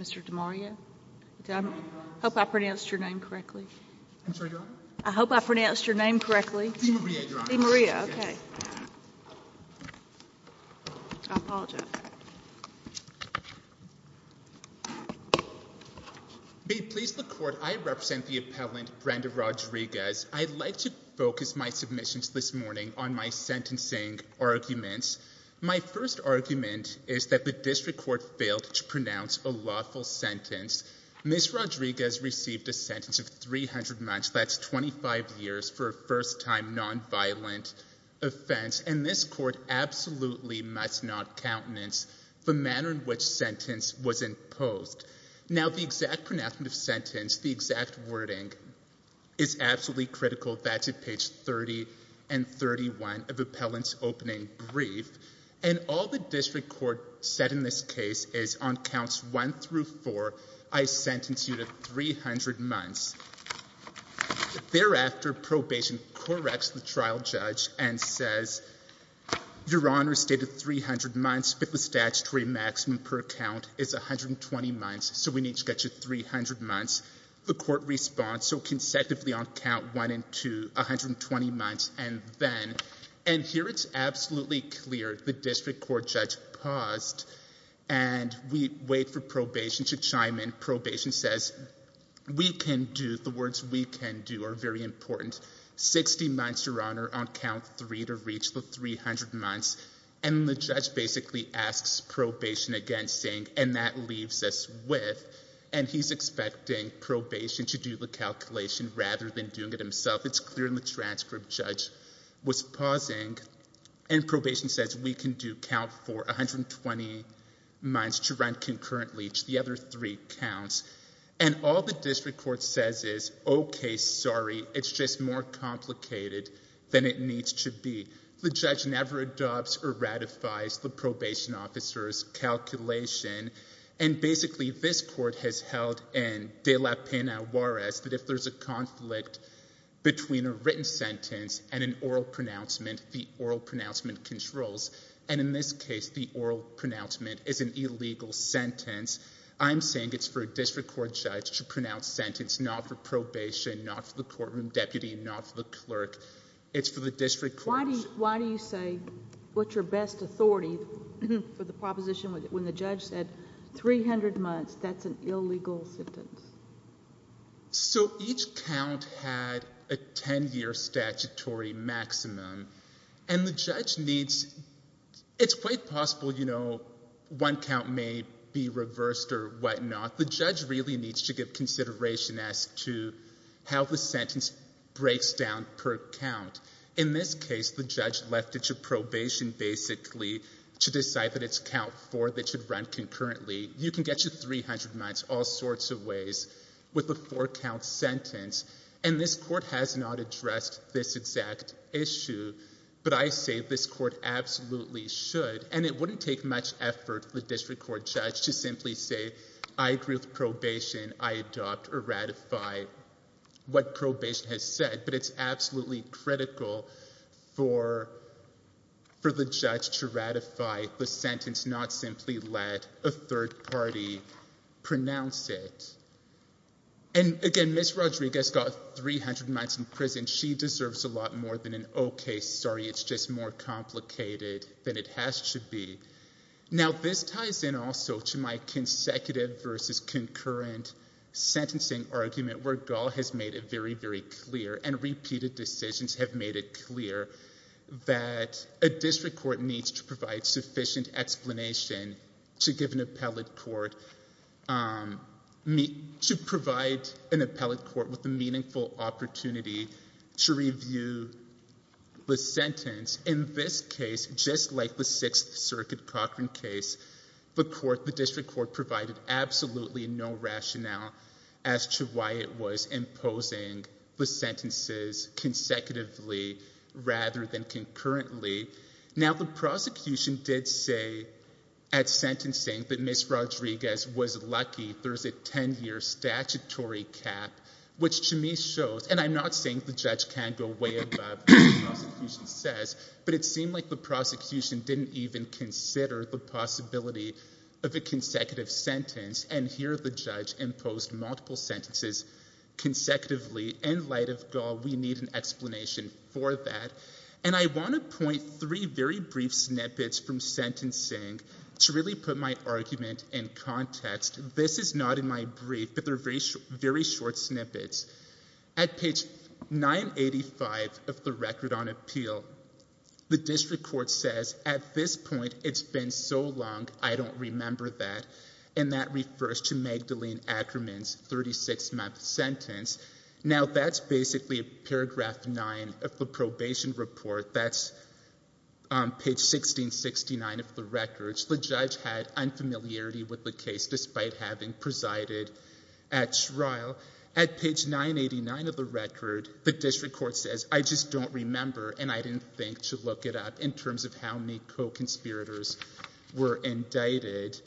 Mr. DeMaria. I hope I pronounced your name correctly. I'm sorry. I hope I pronounced your name correctly. Maria. Okay. I apologize. Please the court. I represent the appellant Brenda Rodriguez. I'd like to focus my submissions this morning on my sentencing arguments. My first argument is that the district court failed to pronounce a lawful sentence. Ms. Rodriguez received a sentence of 300 months, that's 25 years for a first-time nonviolent offense. And this court absolutely must not countenance the manner in which sentence was imposed. Now the exact pronouncement of sentence, the exact wording is absolutely critical. That's at page 30 and 31 of appellant's opening brief. And all the district court said in this case is on counts one through four, I sentence you to 300 months. Thereafter probation corrects the trial judge and says, your honor stated 300 months, but the statutory maximum per account is 120 months. So we need to get you 300 months. The court response. So consecutively on count one and two, 120 months. And then, and here it's absolutely clear. The district court judge paused and we wait for probation to chime in. Probation says we can do the words we can do are very important. 60 months your honor on count three to reach the 300 months. And the judge basically asks probation against saying, and that leaves us with, and he's expecting probation to do the calculation rather than doing it himself. It's clear in the transcript judge was pausing and probation says we can do count for 120 months to run concurrently to the other three counts. And all the district court says is, okay, sorry. It's just more complicated than it needs to be. The judge never adopts or ratifies the probation officer's calculation. And basically this court has held and they left in a war as that if there's a conflict between a written sentence and an oral pronouncement, the oral pronouncement controls. And in this case, the oral pronouncement is an illegal sentence. I'm saying it's for a district court judge to pronounce sentence, not for probation, not for the courtroom deputy, not for the clerk. It's for the district. Why do you, why do you say what's your best authority for the proposition when the judge said 300 months, that's an illegal sentence? So each count had a 10-year statutory maximum. And the judge needs, it's quite possible, you know, one count may be reversed or whatnot. The judge really needs to give consideration as to how the to decide that it's count four that should run concurrently. You can get you 300 months all sorts of ways with a four-count sentence. And this court has not addressed this exact issue. But I say this court absolutely should. And it wouldn't take much effort for the district court judge to simply say, I agree with probation. I adopt or ratify what probation has said. But it's absolutely critical for the judge to ratify the sentence, not simply let a third party pronounce it. And again, Ms. Rodriguez got 300 months in prison. She deserves a lot more than an okay, sorry, it's just more complicated than it has to be. Now, this ties in also to my consecutive versus concurrent sentencing argument where Gall has made it very, very clear and repeated decisions have made it clear that a district court needs to provide sufficient explanation to give an appellate court, to provide an appellate court with a meaningful opportunity to review the sentence. In this case, just like the Sixth Circuit Cochran case, the court, the district court provided absolutely no rationale as to why it was imposing the sentences consecutively rather than concurrently. Now, the prosecution did say at sentencing that Ms. Rodriguez was lucky. There's a 10-year statutory cap, which to me shows, and I'm not saying the judge can go way above what the prosecution says, but it seemed like the prosecution didn't even consider the possibility of a consecutive sentence, and here the judge imposed multiple sentences consecutively. In light of Gall, we need an explanation for that. And I want to point three very brief snippets from sentencing to really put my argument in context. This is not in my brief, but they're very, very short snippets. At page 985 of the Record on Appeal, the district court says, at this point, it's been so long, I don't remember that. And that refers to Magdalene Ackerman's 36-month sentence. Now, that's basically paragraph 9 of the probation report. That's page 1669 of the Record. The judge had unfamiliarity with the case despite having presided at trial. At page 989 of the Record, the district court says, I just don't remember, and I didn't think to look it up in the first place, that Magdalene Ackerman's 36-month sentences were indicted.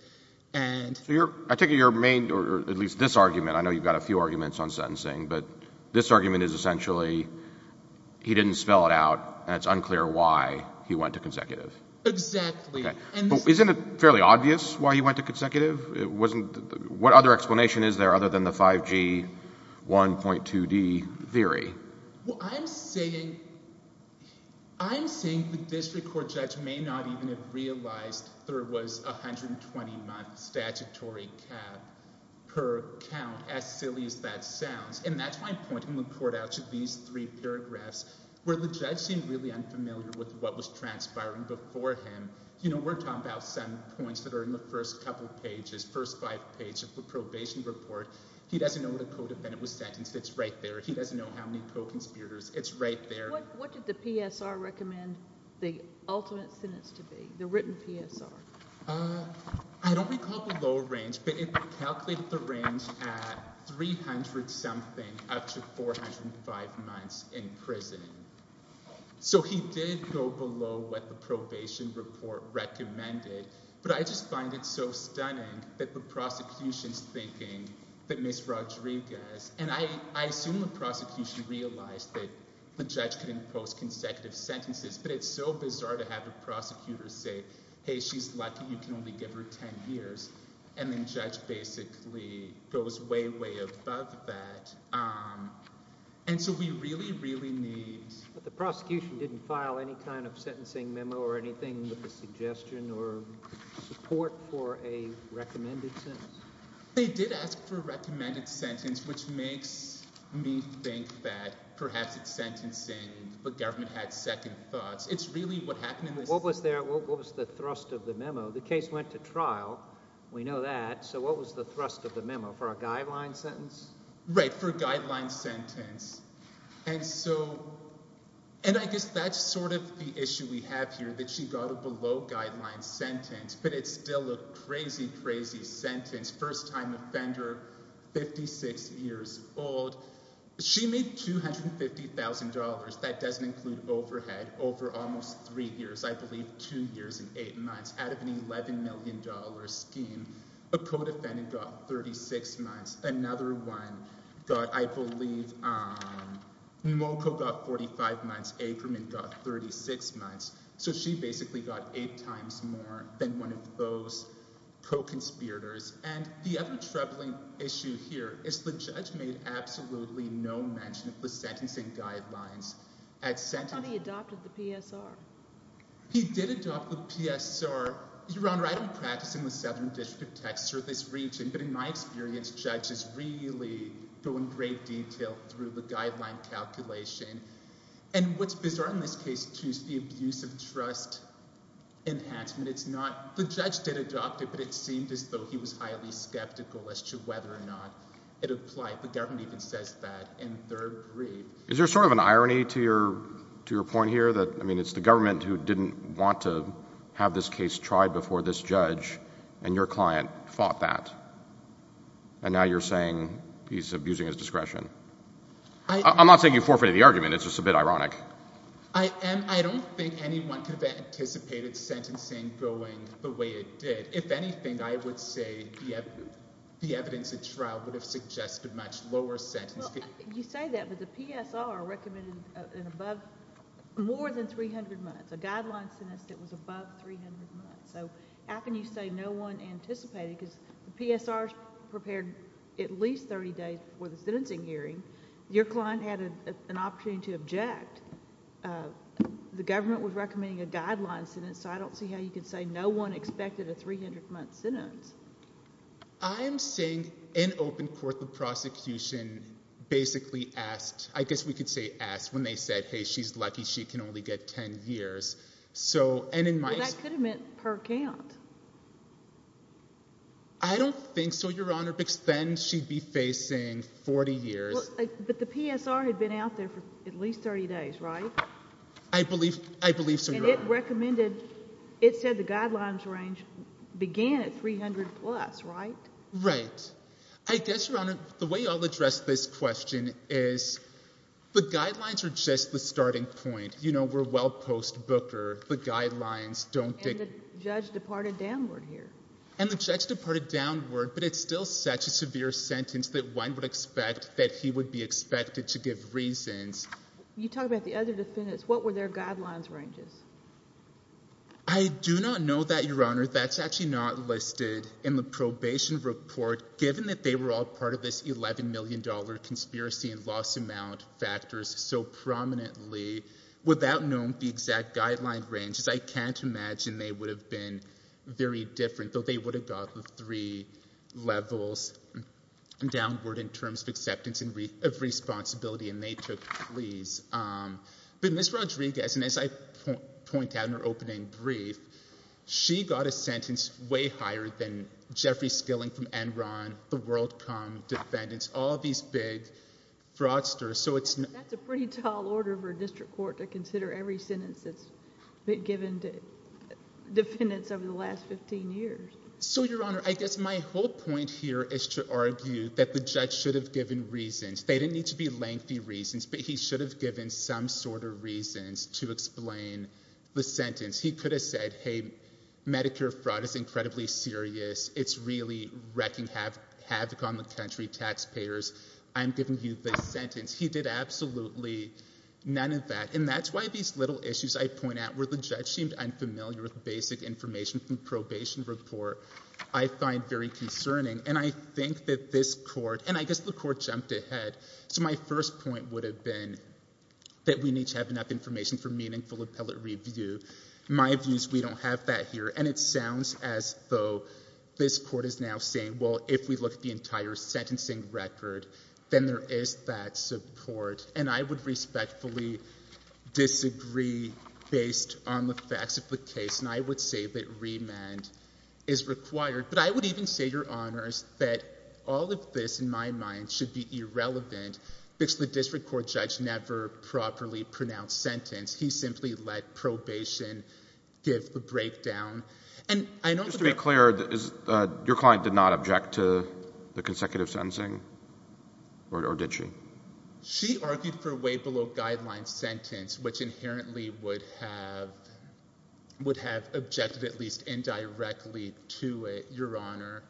So I take it your main, or at least this argument, I know you've got a few arguments on sentencing, but this argument is essentially, he didn't spell it out, and it's unclear why he went to consecutive. Exactly. Okay. Isn't it fairly obvious why he went to consecutive? What other explanation is there other than the 5G 1.2D theory? Well, I'm saying the district court may not even have realized there was a 120-month statutory cap per count, as silly as that sounds. And that's why I'm pointing the court out to these three paragraphs, where the judge seemed really unfamiliar with what was transpiring before him. You know, we're talking about seven points that are in the first couple pages, first five pages of the probation report. He doesn't know what a code of venom was sentenced. It's right there. He doesn't know how many it's right there. What did the PSR recommend the ultimate sentence to be, the written PSR? I don't recall the low range, but it calculated the range at 300-something up to 405 months in prison. So he did go below what the probation report recommended, but I just find it so stunning that the prosecution's thinking that Ms. Rodriguez, and I assume the prosecution realized that the judge couldn't impose consecutive sentences, but it's so bizarre to have a prosecutor say, hey, she's lucky you can only give her 10 years. And then judge basically goes way, way above that. And so we really, really need... But the prosecution didn't file any kind of sentencing memo or anything with the suggestion or support for a recommended sentence? They did ask for a recommended sentence, which makes me think that perhaps it's sentencing, but government had second thoughts. It's really what happened in this... What was the thrust of the memo? The case went to trial. We know that. So what was the thrust of the memo? For a guideline sentence? Right. For a guideline sentence. And I guess that's sort of the issue we have here, that she got a below-guideline sentence, but it's still a crazy, crazy sentence. First-time offender, 56 years old. She made $250,000. That doesn't include overhead, over almost three years, I believe two years and eight months, out of an $11 million scheme. A co-defendant got 36 months. Another one got, I believe... Got 36 months. So she basically got eight times more than one of those co-conspirators. And the other troubling issue here is the judge made absolutely no mention of the sentencing guidelines at sentencing. How did he adopt the PSR? He did adopt the PSR. Your Honor, I don't practice in the Southern District of Texas or this region, but in my experience, judges really go in great detail through the guideline calculation. And what's bizarre in this case, too, is the abuse of trust enhancement. It's not... The judge did adopt it, but it seemed as though he was highly skeptical as to whether or not it applied. The government even says that in third brief. Is there sort of an irony to your point here? That, I mean, it's the government who didn't want to have this case tried before this judge, and your client fought that. And now you're saying he's abusing his trust. I'm not saying you forfeited the argument. It's just a bit ironic. I don't think anyone could have anticipated sentencing going the way it did. If anything, I would say the evidence at trial would have suggested much lower sentences. You say that, but the PSR recommended more than 300 months. A guideline sentence that was above 300 months. So how can you say no one anticipated? Because the PSR prepared at least 30 days before the sentencing hearing. Your client had an opportunity to object. The government was recommending a guideline sentence, so I don't see how you could say no one expected a 300-month sentence. I'm saying in open court, the prosecution basically asked... I guess we could say asked when they said, hey, she's lucky she can only get 10 years. So, and in my... Well, that could have per count. I don't think so, Your Honor, because then she'd be facing 40 years. But the PSR had been out there for at least 30 days, right? I believe so, Your Honor. And it recommended... It said the guidelines range began at 300 plus, right? Right. I guess, Your Honor, the way I'll address this question is the guidelines are just the starting point. You don't think... And the judge departed downward here. And the judge departed downward, but it's still such a severe sentence that one would expect that he would be expected to give reasons. You talk about the other defendants. What were their guidelines ranges? I do not know that, Your Honor. That's actually not listed in the probation report, given that they were all part of this $11 million conspiracy and loss amount factors so prominently without knowing the exact guideline ranges. I can't imagine they would have been very different, though they would have got the three levels downward in terms of acceptance of responsibility and they took pleas. But Ms. Rodriguez, and as I point out in her opening brief, she got a sentence way higher than Jeffrey Skilling from Enron, the WorldCom defendants, all of these big fraudsters. So it's... That's a pretty tall order for a district court to consider every sentence that's been given to defendants over the last 15 years. So, Your Honor, I guess my whole point here is to argue that the judge should have given reasons. They didn't need to be lengthy reasons, but he should have given some sort of reasons to explain the sentence. He could have said, hey, Medicare fraud is incredibly serious. It's really wrecking havoc on the country, taxpayers. I'm giving you this sentence. He did absolutely none of that. And that's why these little issues I point out where the judge seemed unfamiliar with basic information from probation report, I find very concerning. And I think that this court, and I guess the court jumped ahead. So my first point would have been that we need to have enough information for meaningful appellate review. My view is we don't have that here. And it sounds as though this court is now saying, well, if we look at the entire sentencing record, then there is that support. And I would respectfully disagree based on the facts of the case. And I would say that remand is required. But I would even say, Your Honors, that all of this, in my mind, should be irrelevant because the district court judge never properly pronounced the sentence. He simply let probation give the breakdown. And I know that- Just to be clear, your client did not object to the consecutive sentencing? Or did she? She argued for a way below guideline sentence, which inherently would have objected at least indirectly to it, Your Honor.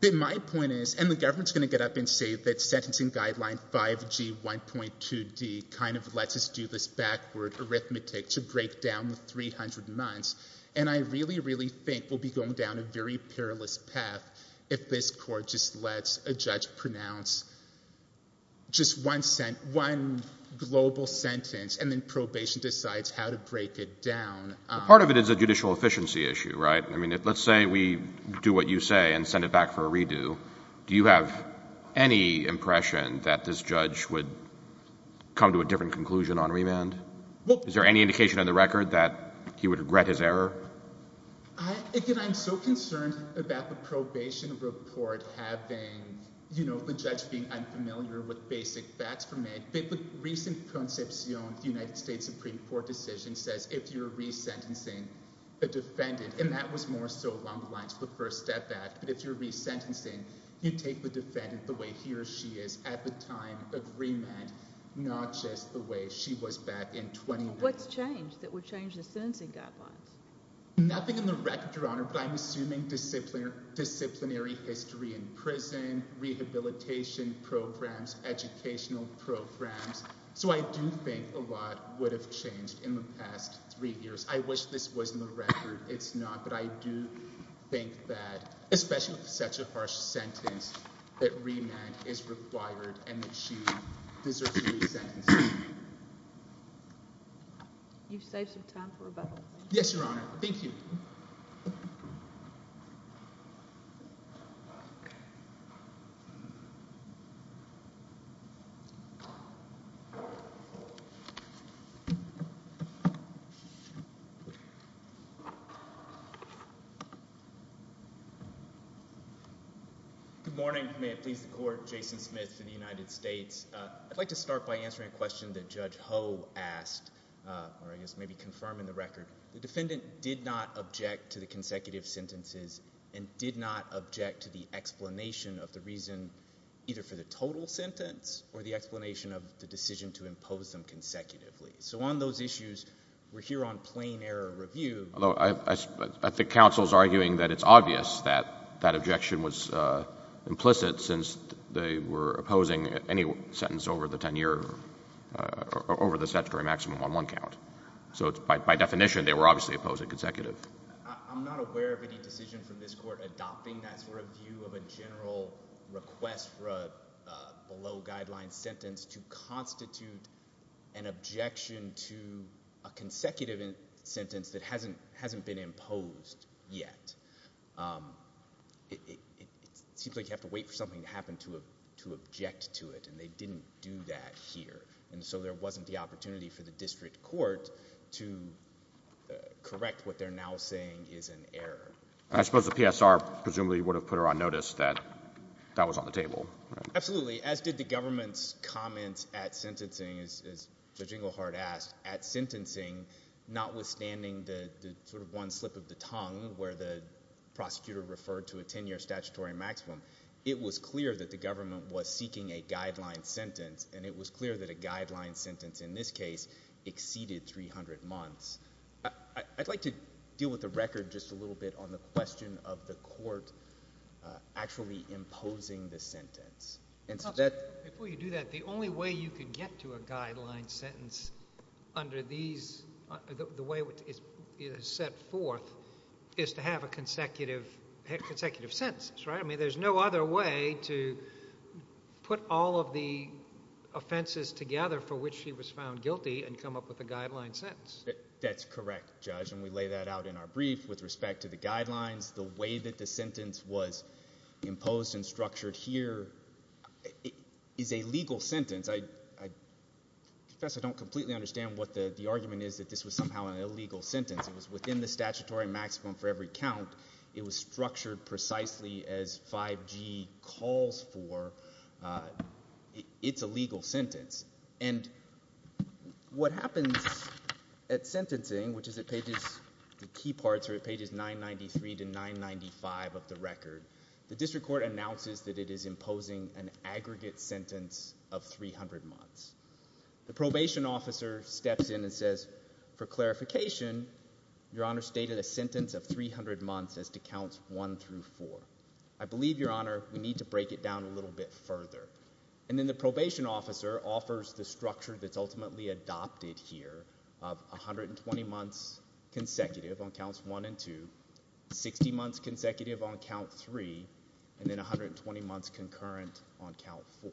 But my point is, and the government's going to get up and say that sentencing guideline 5G1.2D kind of lets us do this backward arithmetic to break down the 300 months. And I really, really think we'll be going down a very perilous path if this court just lets a judge pronounce just one global sentence and then probation decides how to break it down. Well, part of it is a judicial efficiency issue, right? I mean, let's say we do what you say and send it back for a redo. Do you have any impression that this judge would come to a different conclusion on remand? Is there any indication on the record that he would regret his error? Again, I'm so concerned about the probation report having, you know, the judge being unfamiliar with basic facts from it. The recent conception of the United States. And that was more so along the lines of the First Step Act. But if you're resentencing, you take the defendant the way he or she is at the time of remand, not just the way she was back in 2010. What's changed that would change the sentencing guidelines? Nothing in the record, Your Honor, but I'm assuming disciplinary history in prison, rehabilitation programs, educational programs. So I do think a lot would have changed in the past three years. I wish this was in the record. It's not. But I do think that especially with such a harsh sentence that remand is required and that she deserves to be sentenced. You've saved some time for rebuttal. Yes, Your Honor. Thank you. Good morning. May it please the Court. Jason Smith for the United States. I'd like to start by answering a question that Judge Ho asked, or I guess maybe confirming the record. The defendant did not object to the consecutive sentences and did not object to the explanation of the reason, either for the total sentence or the explanation of the decision to impose them consecutively. So on those issues, we're here on plain error review. Although I think counsel's arguing that it's obvious that that objection was implicit since they were opposing any sentence over the 10-year, over the statutory maximum on one count. So by definition, they were obviously opposing consecutive. I'm not aware of any decision from this Court adopting that sort of view of a general request for a below-guideline sentence to constitute an objection to a consecutive sentence that hasn't been imposed yet. It seems like you have to wait for something to happen to object to it, and they didn't do that here. And so there wasn't the opportunity for the district court to correct what they're now saying is an error. I suppose the PSR presumably would have put her on notice that that was on the table. Absolutely. As did the government's comments at sentencing, as Judge Inglehart asked, at sentencing, notwithstanding the sort of one slip of the tongue where the prosecutor referred to a 10-year statutory maximum, it was clear that the government was seeking a guideline sentence, and it was clear that a guideline sentence in this case exceeded 300 months. I'd like to deal with the record just a little bit on the question of the Court actually imposing the sentence. Before you do that, the only way you can get to a guideline sentence under the way it is set forth is to have consecutive sentences, right? I mean, there's no other way to put all of the offenses together for which she was found guilty and come up with a guideline sentence. That's correct, Judge, and we lay that out in our brief with respect to the guidelines, the way that the sentence was imposed and structured here is a legal sentence. Professor, I don't completely understand what the argument is that this was somehow an illegal sentence. It was within the statutory maximum for every count. It was structured precisely as 5G calls for. It's a legal sentence, and what happens at sentencing, which is at pages, the key parts are at pages 993 to 995 of the record, the District Court announces that it is imposing an aggregate sentence of 300 months. The probation officer steps in and says, for clarification, Your Honor stated a sentence of 300 months as to counts 1 through 4. I believe, Your Honor, we need to break it down a little bit further, and then the probation officer offers the structure that's ultimately adopted here of 120 months consecutive on counts 1 and 2, 60 months consecutive on count 3, and then 120 months concurrent on count 4,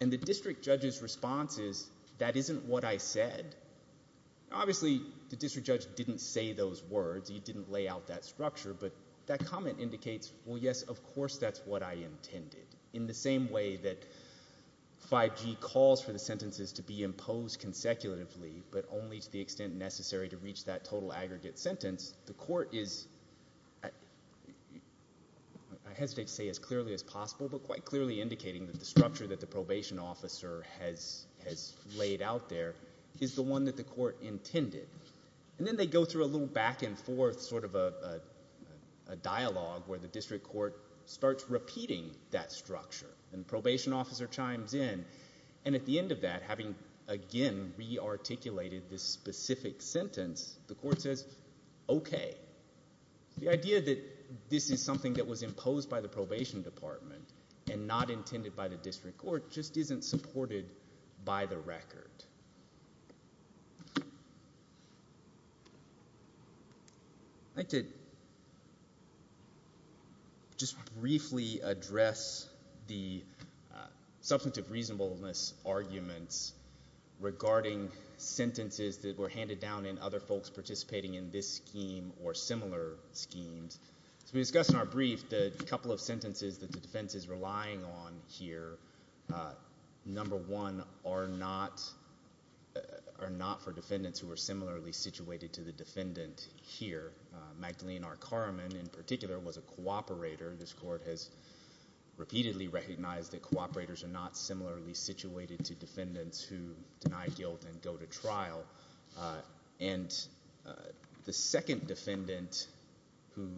and the district judge's response is, That isn't what I said. Obviously, the district judge didn't say those words. He didn't lay out that structure, but that comment indicates, Well, yes, of course, that's what I intended. In the same way that 5G calls for the sentences to be imposed consecutively, but only to the extent necessary to reach that total aggregate sentence, the court is, I hesitate to say as clearly as possible, but quite clearly indicating that the structure that the probation officer has laid out there is the one that the court intended, and then they go through a little back and forth sort of a dialogue where the District Court starts repeating that structure, and the probation officer chimes in, and at the end of that, having again re-articulated this specific sentence, the court says, Okay. The idea that this is something that was imposed by the probation department and not intended by the District Court just isn't supported by the record. I'd like to just briefly address the substantive reasonableness arguments regarding sentences that were handed down in other folks participating in this scheme or similar schemes. As we discussed in our brief, the couple of sentences that the defense is referring to, number one, are not for defendants who are similarly situated to the defendant here. Magdalene R. Carman, in particular, was a cooperator. This court has repeatedly recognized that cooperators are not similarly situated to defendants who deny guilt and go to trial. The second defendant who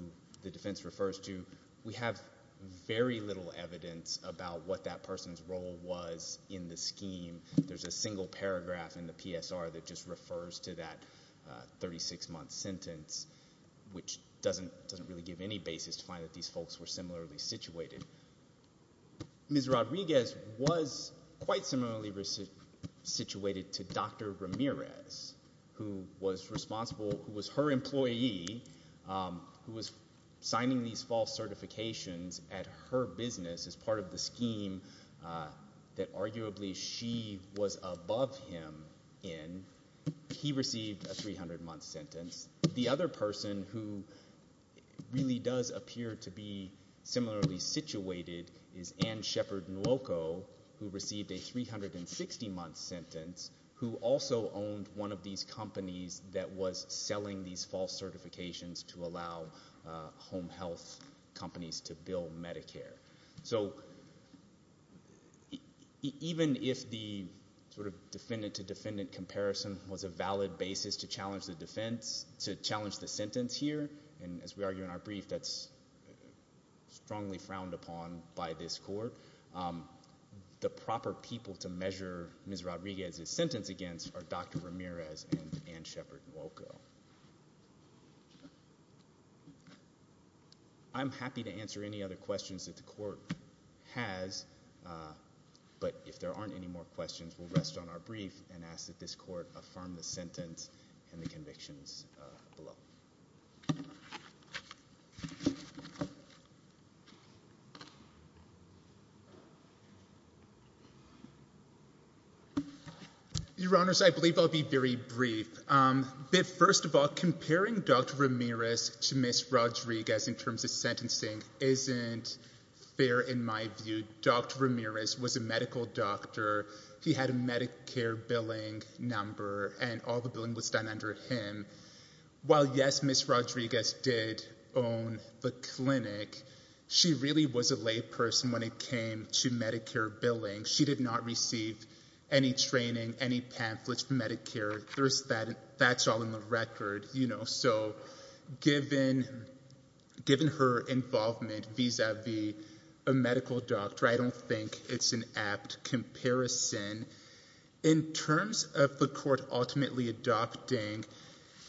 the defense refers to, we have very little evidence about what that person's role was in the scheme. There's a single paragraph in the PSR that just refers to that 36-month sentence, which doesn't really give any basis to find that these folks were similarly situated. Ms. Rodriguez was quite similarly situated to Dr. Ramirez, who was responsible, who was her employee, who was signing these false certifications at her business as part of the that arguably she was above him in. He received a 300-month sentence. The other person who really does appear to be similarly situated is Ann Shepard Nwoko, who received a 360-month sentence, who also owned one of these companies that was selling these false certifications to allow home health companies to bill Medicare. So even if the sort of defendant-to-defendant comparison was a valid basis to challenge the defense, to challenge the sentence here, and as we argue in our brief, that's strongly frowned upon by this court, the proper people to measure Ms. Rodriguez's I'm happy to answer any other questions that the court has, but if there aren't any more questions, we'll rest on our brief and ask that this court affirm the sentence and the convictions below. Your Honors, I believe I'll be very brief. First of all, comparing Dr. Ramirez to Ms. Rodriguez in terms of sentencing isn't fair in my view. Dr. Ramirez was a medical doctor. He had a Medicare billing number, and all the billing was done under him. While, yes, Ms. Rodriguez did own the clinic, she really was a layperson when it came to Medicare billing. She did not receive any training, any pamphlets from Medicare. That's all in the record. So given her involvement vis-a-vis a medical doctor, I don't think it's an apt comparison. In terms of the court ultimately adopting,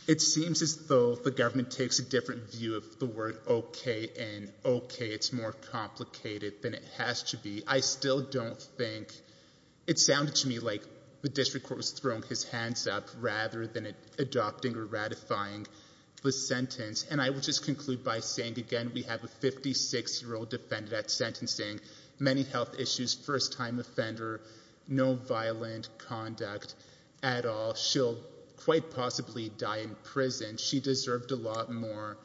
it seems as though the government takes a different view of the word okay and okay. It's more complicated than it has to be. I still don't think, it sounded to me like the district court was throwing his hands up rather than adopting or ratifying the sentence, and I will just conclude by saying again we have a 56-year-old defendant at sentencing, many health issues, first-time offender, no violent conduct at all. She'll quite possibly die in prison. She deserved a lot more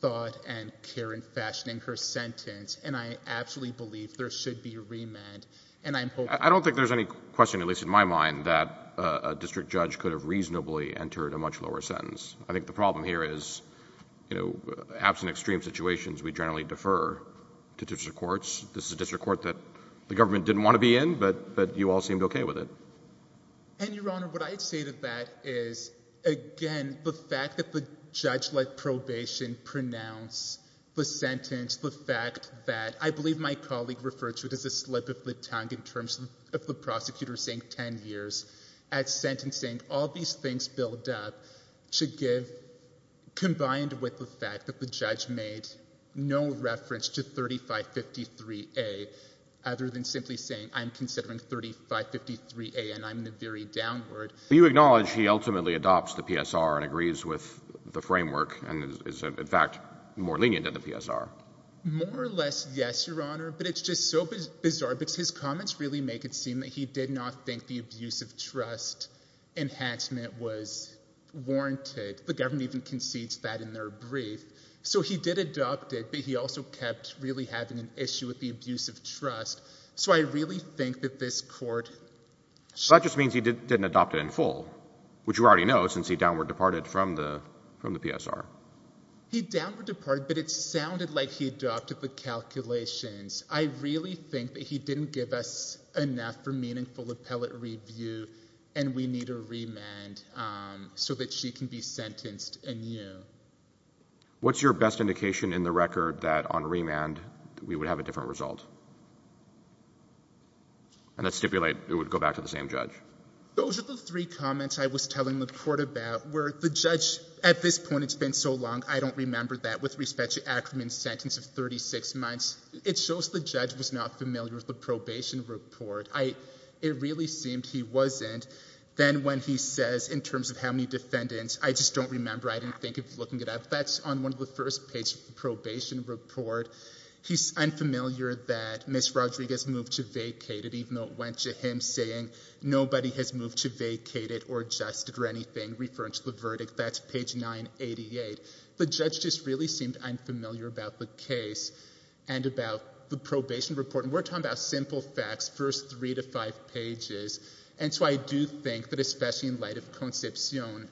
thought and care in fashioning her sentence, and I absolutely believe there should be a remand. I don't think there's any question, at least in my mind, that a district judge could have absent extreme situations. We generally defer to district courts. This is a district court that the government didn't want to be in, but you all seemed okay with it. And Your Honor, what I'd say to that is again the fact that the judge let probation pronounce the sentence, the fact that, I believe my colleague referred to it as a slip of the tongue in terms of the prosecutor saying 10 years at sentencing, all these things build up to give, combined with the fact that the judge made no reference to 3553A other than simply saying I'm considering 3553A and I'm the very downward. Do you acknowledge he ultimately adopts the PSR and agrees with the framework and is in fact more lenient than the PSR? More or less yes, Your Honor, but it's just so bizarre because his comments really make it seem that he did not think the abuse of trust enhancement was warranted. The government even concedes that in their brief. So he did adopt it, but he also kept really having an issue with the abuse of trust. So I really think that this court... So that just means he didn't adopt it in full, which you already know since he downward departed from the PSR. He downward departed, but it sounded like he adopted the calculations. I really think that he didn't give us enough for review and we need a remand so that she can be sentenced anew. What's your best indication in the record that on remand we would have a different result? And let's stipulate it would go back to the same judge. Those are the three comments I was telling the court about where the judge, at this point it's been so long I don't remember that with respect to Ackerman's sentence of 36 months. It shows the he wasn't. Then when he says in terms of how many defendants, I just don't remember, I didn't think of looking it up. That's on one of the first page of the probation report. He's unfamiliar that Ms. Rodriguez moved to vacated even though it went to him saying nobody has moved to vacated or adjusted or anything referring to the verdict. That's page 988. The judge just really seemed unfamiliar about the case and about the probation report. We're talking about simple facts, first three to five pages, and so I do think that especially in light of Concepcion,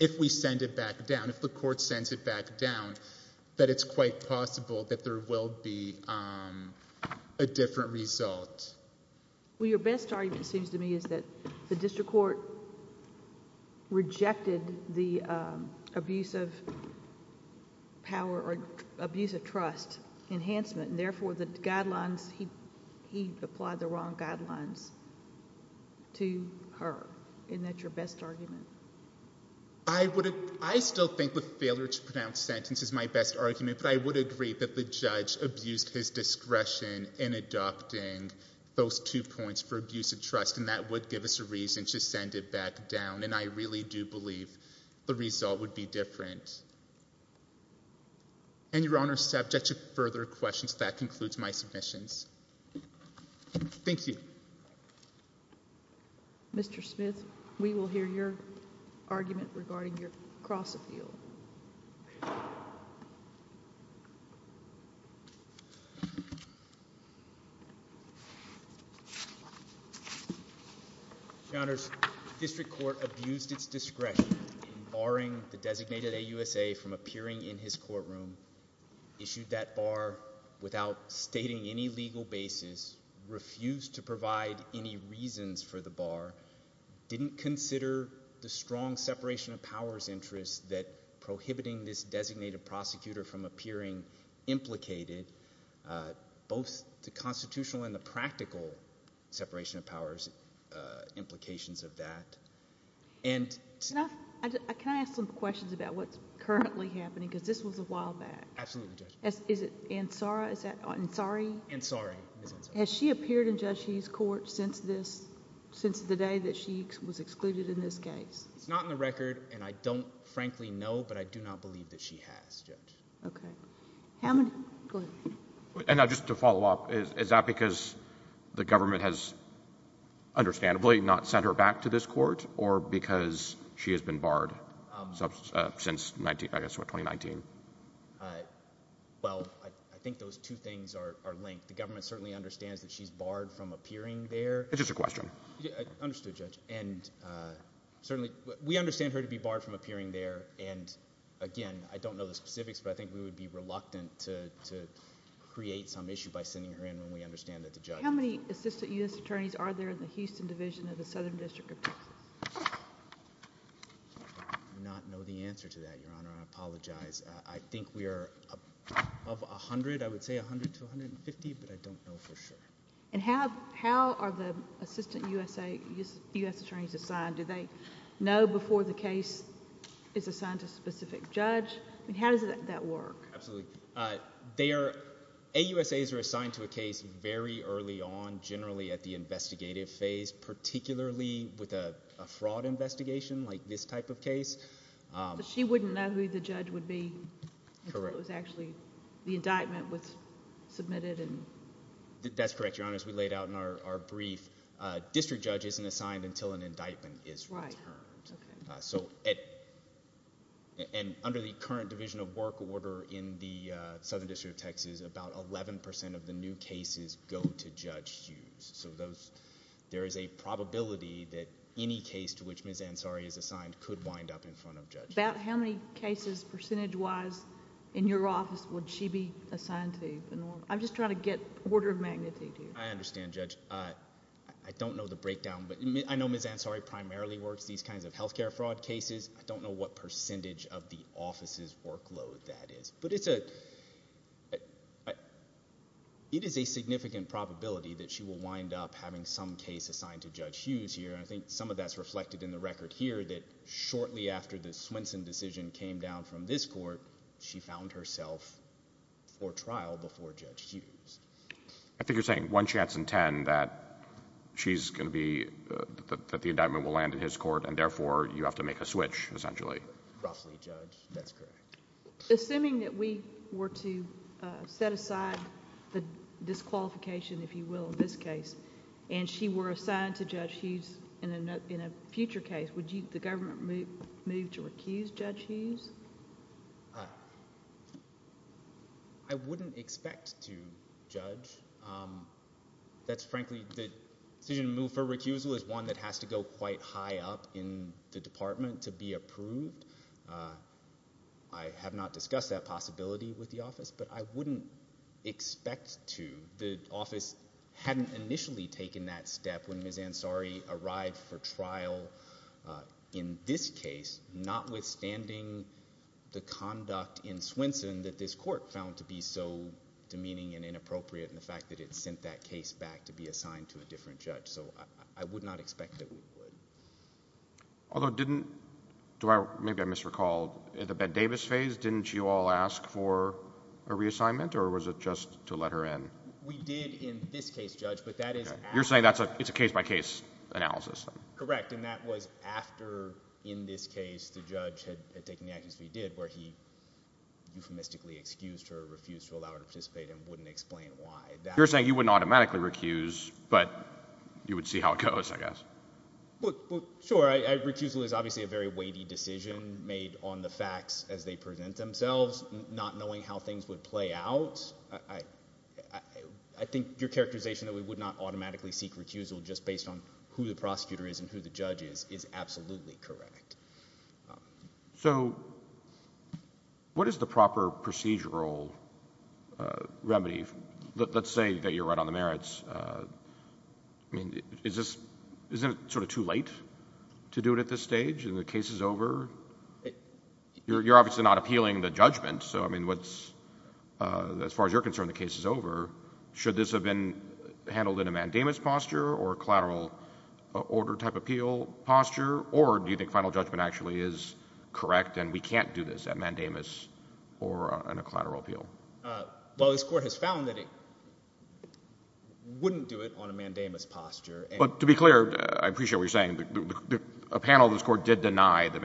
if we send it back down, if the court sends it back down, that it's quite possible that there will be a different result. Your best argument seems to me is that the district court rejected the abuse of power or abuse of trust enhancement and therefore he applied the wrong guidelines to her. Isn't that your best argument? I still think the failure to pronounce sentence is my best argument, but I would agree that the judge abused his discretion in adopting those two points for abuse of trust and that would give us a reason to send it back down. I really do believe the result would be different. And your honor, subject to further questions, that concludes my submissions. Thank you. Mr. Smith, we will hear your argument regarding your cross appeal. Your honor, the district court abused its discretion in barring the designated AUSA from appearing in his courtroom, issued that bar without stating any legal basis, refused to provide any reasons for the bar, didn't consider the strong separation of powers prohibiting this designated prosecutor from appearing implicated, both the constitutional and the practical separation of powers implications of that. Can I ask some questions about what's currently happening, because this was a while back. Absolutely, Judge. Is it Ansari? Has she appeared in Judge Heath's court since the day that she was excluded in this case? It's not in the record and I don't frankly know, but I do not believe that she has, Judge. Okay. Hammond, go ahead. And just to follow up, is that because the government has understandably not sent her back to this court or because she has been barred since, I guess, what, 2019? Well, I think those two things are linked. The government certainly understands that she's barred from appearing there. It's just a question. Understood, Judge. And certainly, we understand her to be barred from appearing there. And again, I don't know the specifics, but I think we would be reluctant to create some issue by sending her in when we understand that, Judge. How many Assistant U.S. Attorneys are there in the Houston Division of the Southern District of Texas? I do not know the answer to that, Your Honor. I apologize. I think we are of 100, I would say 100 to 150, but I don't know for sure. And how are the Assistant U.S. Attorneys assigned? Do they know before the case is assigned to a specific judge? I mean, how does that work? Absolutely. AUSAs are assigned to a case very early on, generally at the investigative phase, particularly with a fraud investigation like this type of case. But she wouldn't know who the judge would be until it was actually, the indictment was submitted. That's correct, Your Honor. As we laid out in our brief, district judge isn't assigned until an indictment is returned. Right. Okay. So, and under the current Division of Work order in the Southern District of Texas, about 11% of the new cases go to Judge Hughes. So, there is a probability that any case to which Ms. Ansari is assigned could wind up in front of Judge Hughes. About how many cases, percentage-wise, in your office would she be assigned to? I'm just trying to get order of magnitude here. I understand, Judge. I don't know the breakdown, but I know Ms. Ansari primarily works these kinds of healthcare fraud cases. I don't know what percentage of the office's workload that is. But it's a, it is a significant probability that she will wind up having some case assigned to Judge Hughes here. And I think some of that's reflected in the record here that shortly after the Swenson decision came down from this court, she found herself for trial before Judge Hughes. I think you're saying one chance in ten that she's going to be, that the indictment will land in his court, and therefore, you have to make a switch, essentially. Roughly, Judge. That's correct. Assuming that we were to set aside the disqualification, if you will, in this case, and she were assigned to Judge Hughes in a future case, would you, the government move to recuse Judge Hughes? I wouldn't expect to judge. That's frankly, the decision to move for recusal is one that has to go quite high up in the department to be approved. I have not discussed that possibility with the office, but I wouldn't expect to. The office hadn't initially taken that step when Ms. Ansari arrived for trial in this case, notwithstanding the conduct in Swenson that this court found to be so demeaning and inappropriate, and the fact that it sent that case back to be assigned to a different judge. So I would not expect that we would. Although didn't, do I, maybe I misrecalled, at the Ben Davis phase, didn't you all ask for a reassignment, or was it just to let her in? We did in this case, Judge, but that is. You're saying that's a, it's a case-by-case analysis. Correct, and that was after, in this case, the judge had taken the actions we did, where he euphemistically excused her, refused to allow her to participate, and wouldn't explain why. You're saying you wouldn't automatically recuse, but you would see how it goes, I guess. Sure, recusal is obviously a very weighty decision made on the facts as they present themselves, not knowing how things would play out. I think your characterization that we would not seek recusal just based on who the prosecutor is and who the judge is, is absolutely correct. So what is the proper procedural remedy? Let's say that you're right on the merits. I mean, is this, isn't it sort of too late to do it at this stage, and the case is over? You're obviously not appealing the judgment, so I mean, what's, as far as you're concerned, the case is over. Should this have been handled in a mandamus posture or collateral order type appeal posture, or do you think final judgment actually is correct and we can't do this at mandamus or on a collateral appeal? Well, this Court has found that it wouldn't do it on a mandamus posture. But to be clear, I appreciate what you're saying. A panel of this Court did deny the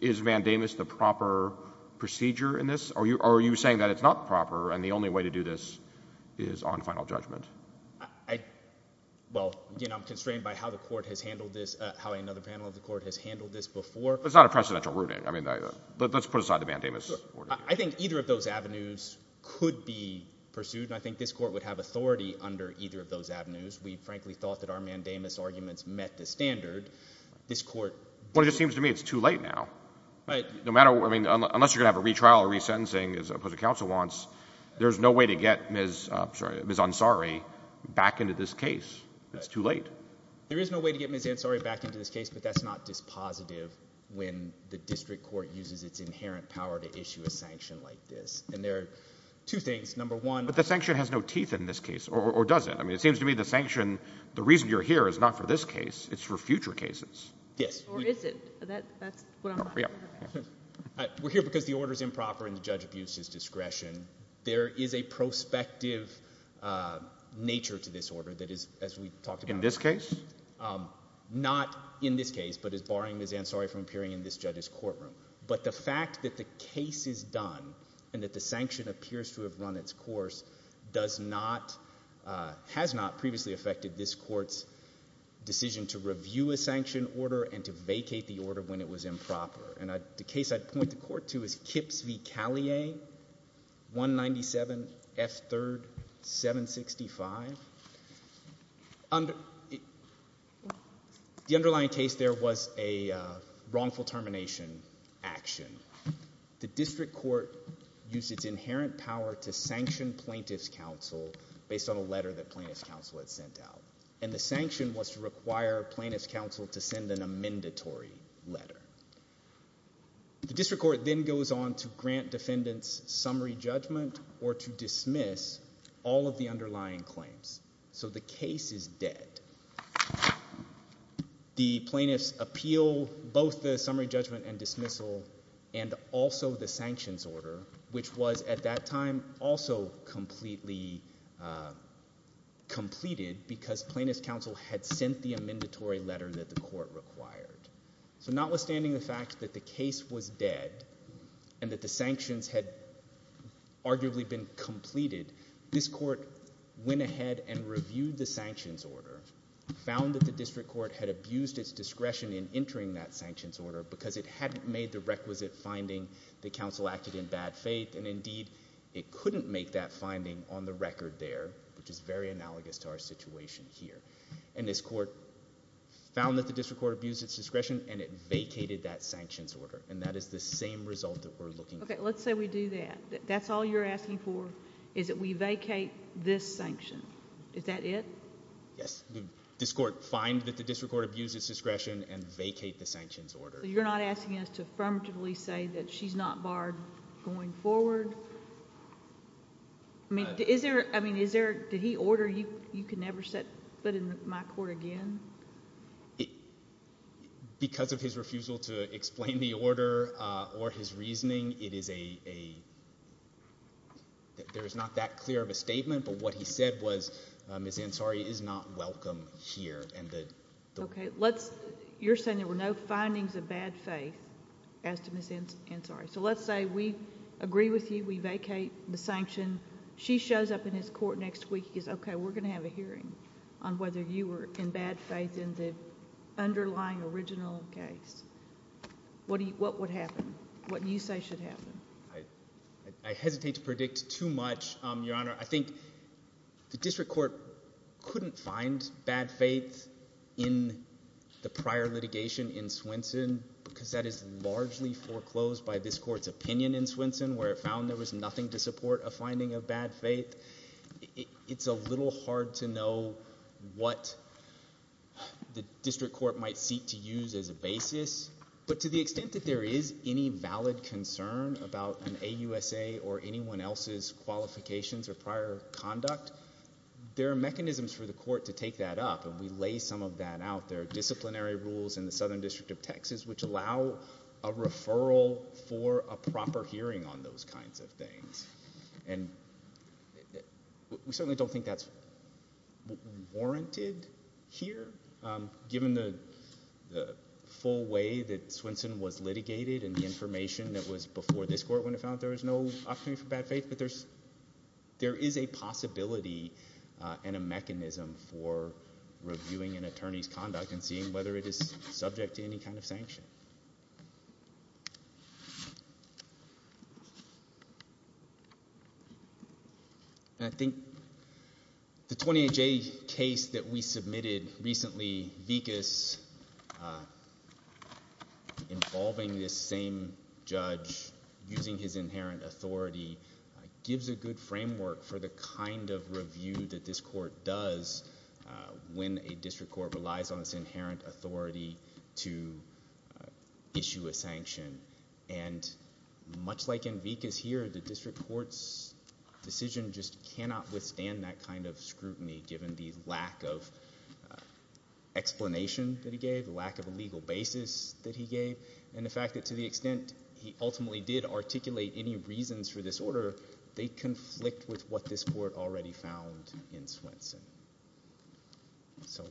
is mandamus the proper procedure in this? Or are you saying that it's not proper, and the only way to do this is on final judgment? Well, you know, I'm constrained by how the Court has handled this, how another panel of the Court has handled this before. It's not a precedential ruling. I mean, let's put aside the mandamus. I think either of those avenues could be pursued, and I think this Court would have authority under either of those avenues. We frankly thought that our mandamus arguments met the standard. This Court— Well, it just seems to me it's too late now. No matter what—I mean, unless you're going to have a retrial or resentencing, as opposed to counsel wants, there's no way to get Ms. Ansari back into this case. It's too late. There is no way to get Ms. Ansari back into this case, but that's not dispositive when the district court uses its inherent power to issue a sanction like this, and there are two things. Number one— But the sanction has no teeth in this case, or doesn't. I mean, it seems to me the sanction, the reason you're here is not for this case, it's for future cases. Yes. Or is it? That's what I'm— We're here because the order's improper and the judge abused his discretion. There is a prospective nature to this order that is, as we talked about— In this case? Not in this case, but as barring Ms. Ansari from appearing in this judge's courtroom. But the fact that the case is done and that the sanction appears to have run its course does not—has not previously affected this court's decision to review a sanction order and to vacate the order when it was improper. And the case I'd point the court to is Kipps v. Callier, 197 F. 3rd, 765. The underlying case there was a wrongful termination action. The district court used its inherent power to sanction plaintiff's counsel based on a letter that plaintiff's counsel had sent out. And the sanction was to require plaintiff's counsel to send an amendatory letter. The district court then goes on to grant defendants summary judgment or to dismiss all of the underlying claims. So the case is dead. The plaintiff's appeal, both the summary judgment and dismissal, and also the sanctions order, which was at that time also completely completed because plaintiff's counsel had sent the amendatory letter that the court required. So notwithstanding the fact that the case was dead and that the sanctions had arguably been completed, this court went ahead and reviewed the sanctions order, found that the district court had abused its discretion in entering that sanctions order because it hadn't made the requisite finding that counsel acted in bad faith. And indeed, it couldn't make that finding on the record there, which is very analogous to our situation here. And this court found that the district court abused its discretion and it vacated that sanctions order. And that is the same result that we're looking for. Okay, let's say we do that. That's all you're asking for. Is that we vacate this sanction? Is that it? Yes, this court find that the district court abused its discretion and vacate the sanctions order. So you're not asking us to affirmatively say that she's not barred going forward? I mean, is there, I mean, is there, did he order you, you could never set foot in my court again? Because of his refusal to explain the order or his reasoning, it is a, there is not that clear of a statement, but what he said was Ms. Ansari is not welcome here. Okay, let's, you're saying there were no findings of bad faith as to Ms. Ansari. So let's say we agree with you, we vacate the sanction. She shows up in his court next week, he says, okay, we're going to have a hearing on whether you were in bad faith in the underlying original case. What do you, what would happen? What do you say should happen? I hesitate to predict too much, Your Honor. I think the district court couldn't find bad faith in the prior litigation in Swenson because that is largely foreclosed by this court's opinion in Swenson where it found there was nothing to support a finding of bad faith. It's a little hard to know what the district court might seek to use as a basis, but to the extent that there is any valid concern about an AUSA or anyone else's qualifications or prior conduct, there are mechanisms for the court to take that up and we lay some of that out. There are disciplinary rules in the Southern District of Texas which allow a referral for a proper hearing on those kinds of things. And we certainly don't think that's warranted here given the full way that Swenson was litigated and the information that was before this court when it found there was no opportunity for bad faith, but there is a possibility and a mechanism for reviewing an attorney's conduct and seeing whether it is subject to any kind of sanction. And I think the 28J case that we submitted recently, Vickas involving this same judge using his inherent authority, gives a good framework for the kind of review that this court does when a district court relies on its inherent authority to issue a sanction. And much like Vickas here, the district court's decision just cannot withstand that kind of scrutiny given the lack of explanation that he gave, the lack of a legal basis that he gave, and the fact that to the extent he ultimately did articulate any reasons for this order, they conflict with what this court already found in Swenson. So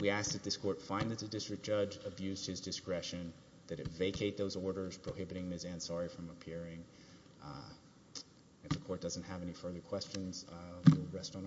we ask that this court find that the district judge abused his authority. If the court doesn't have any further questions, we'll rest on our brief.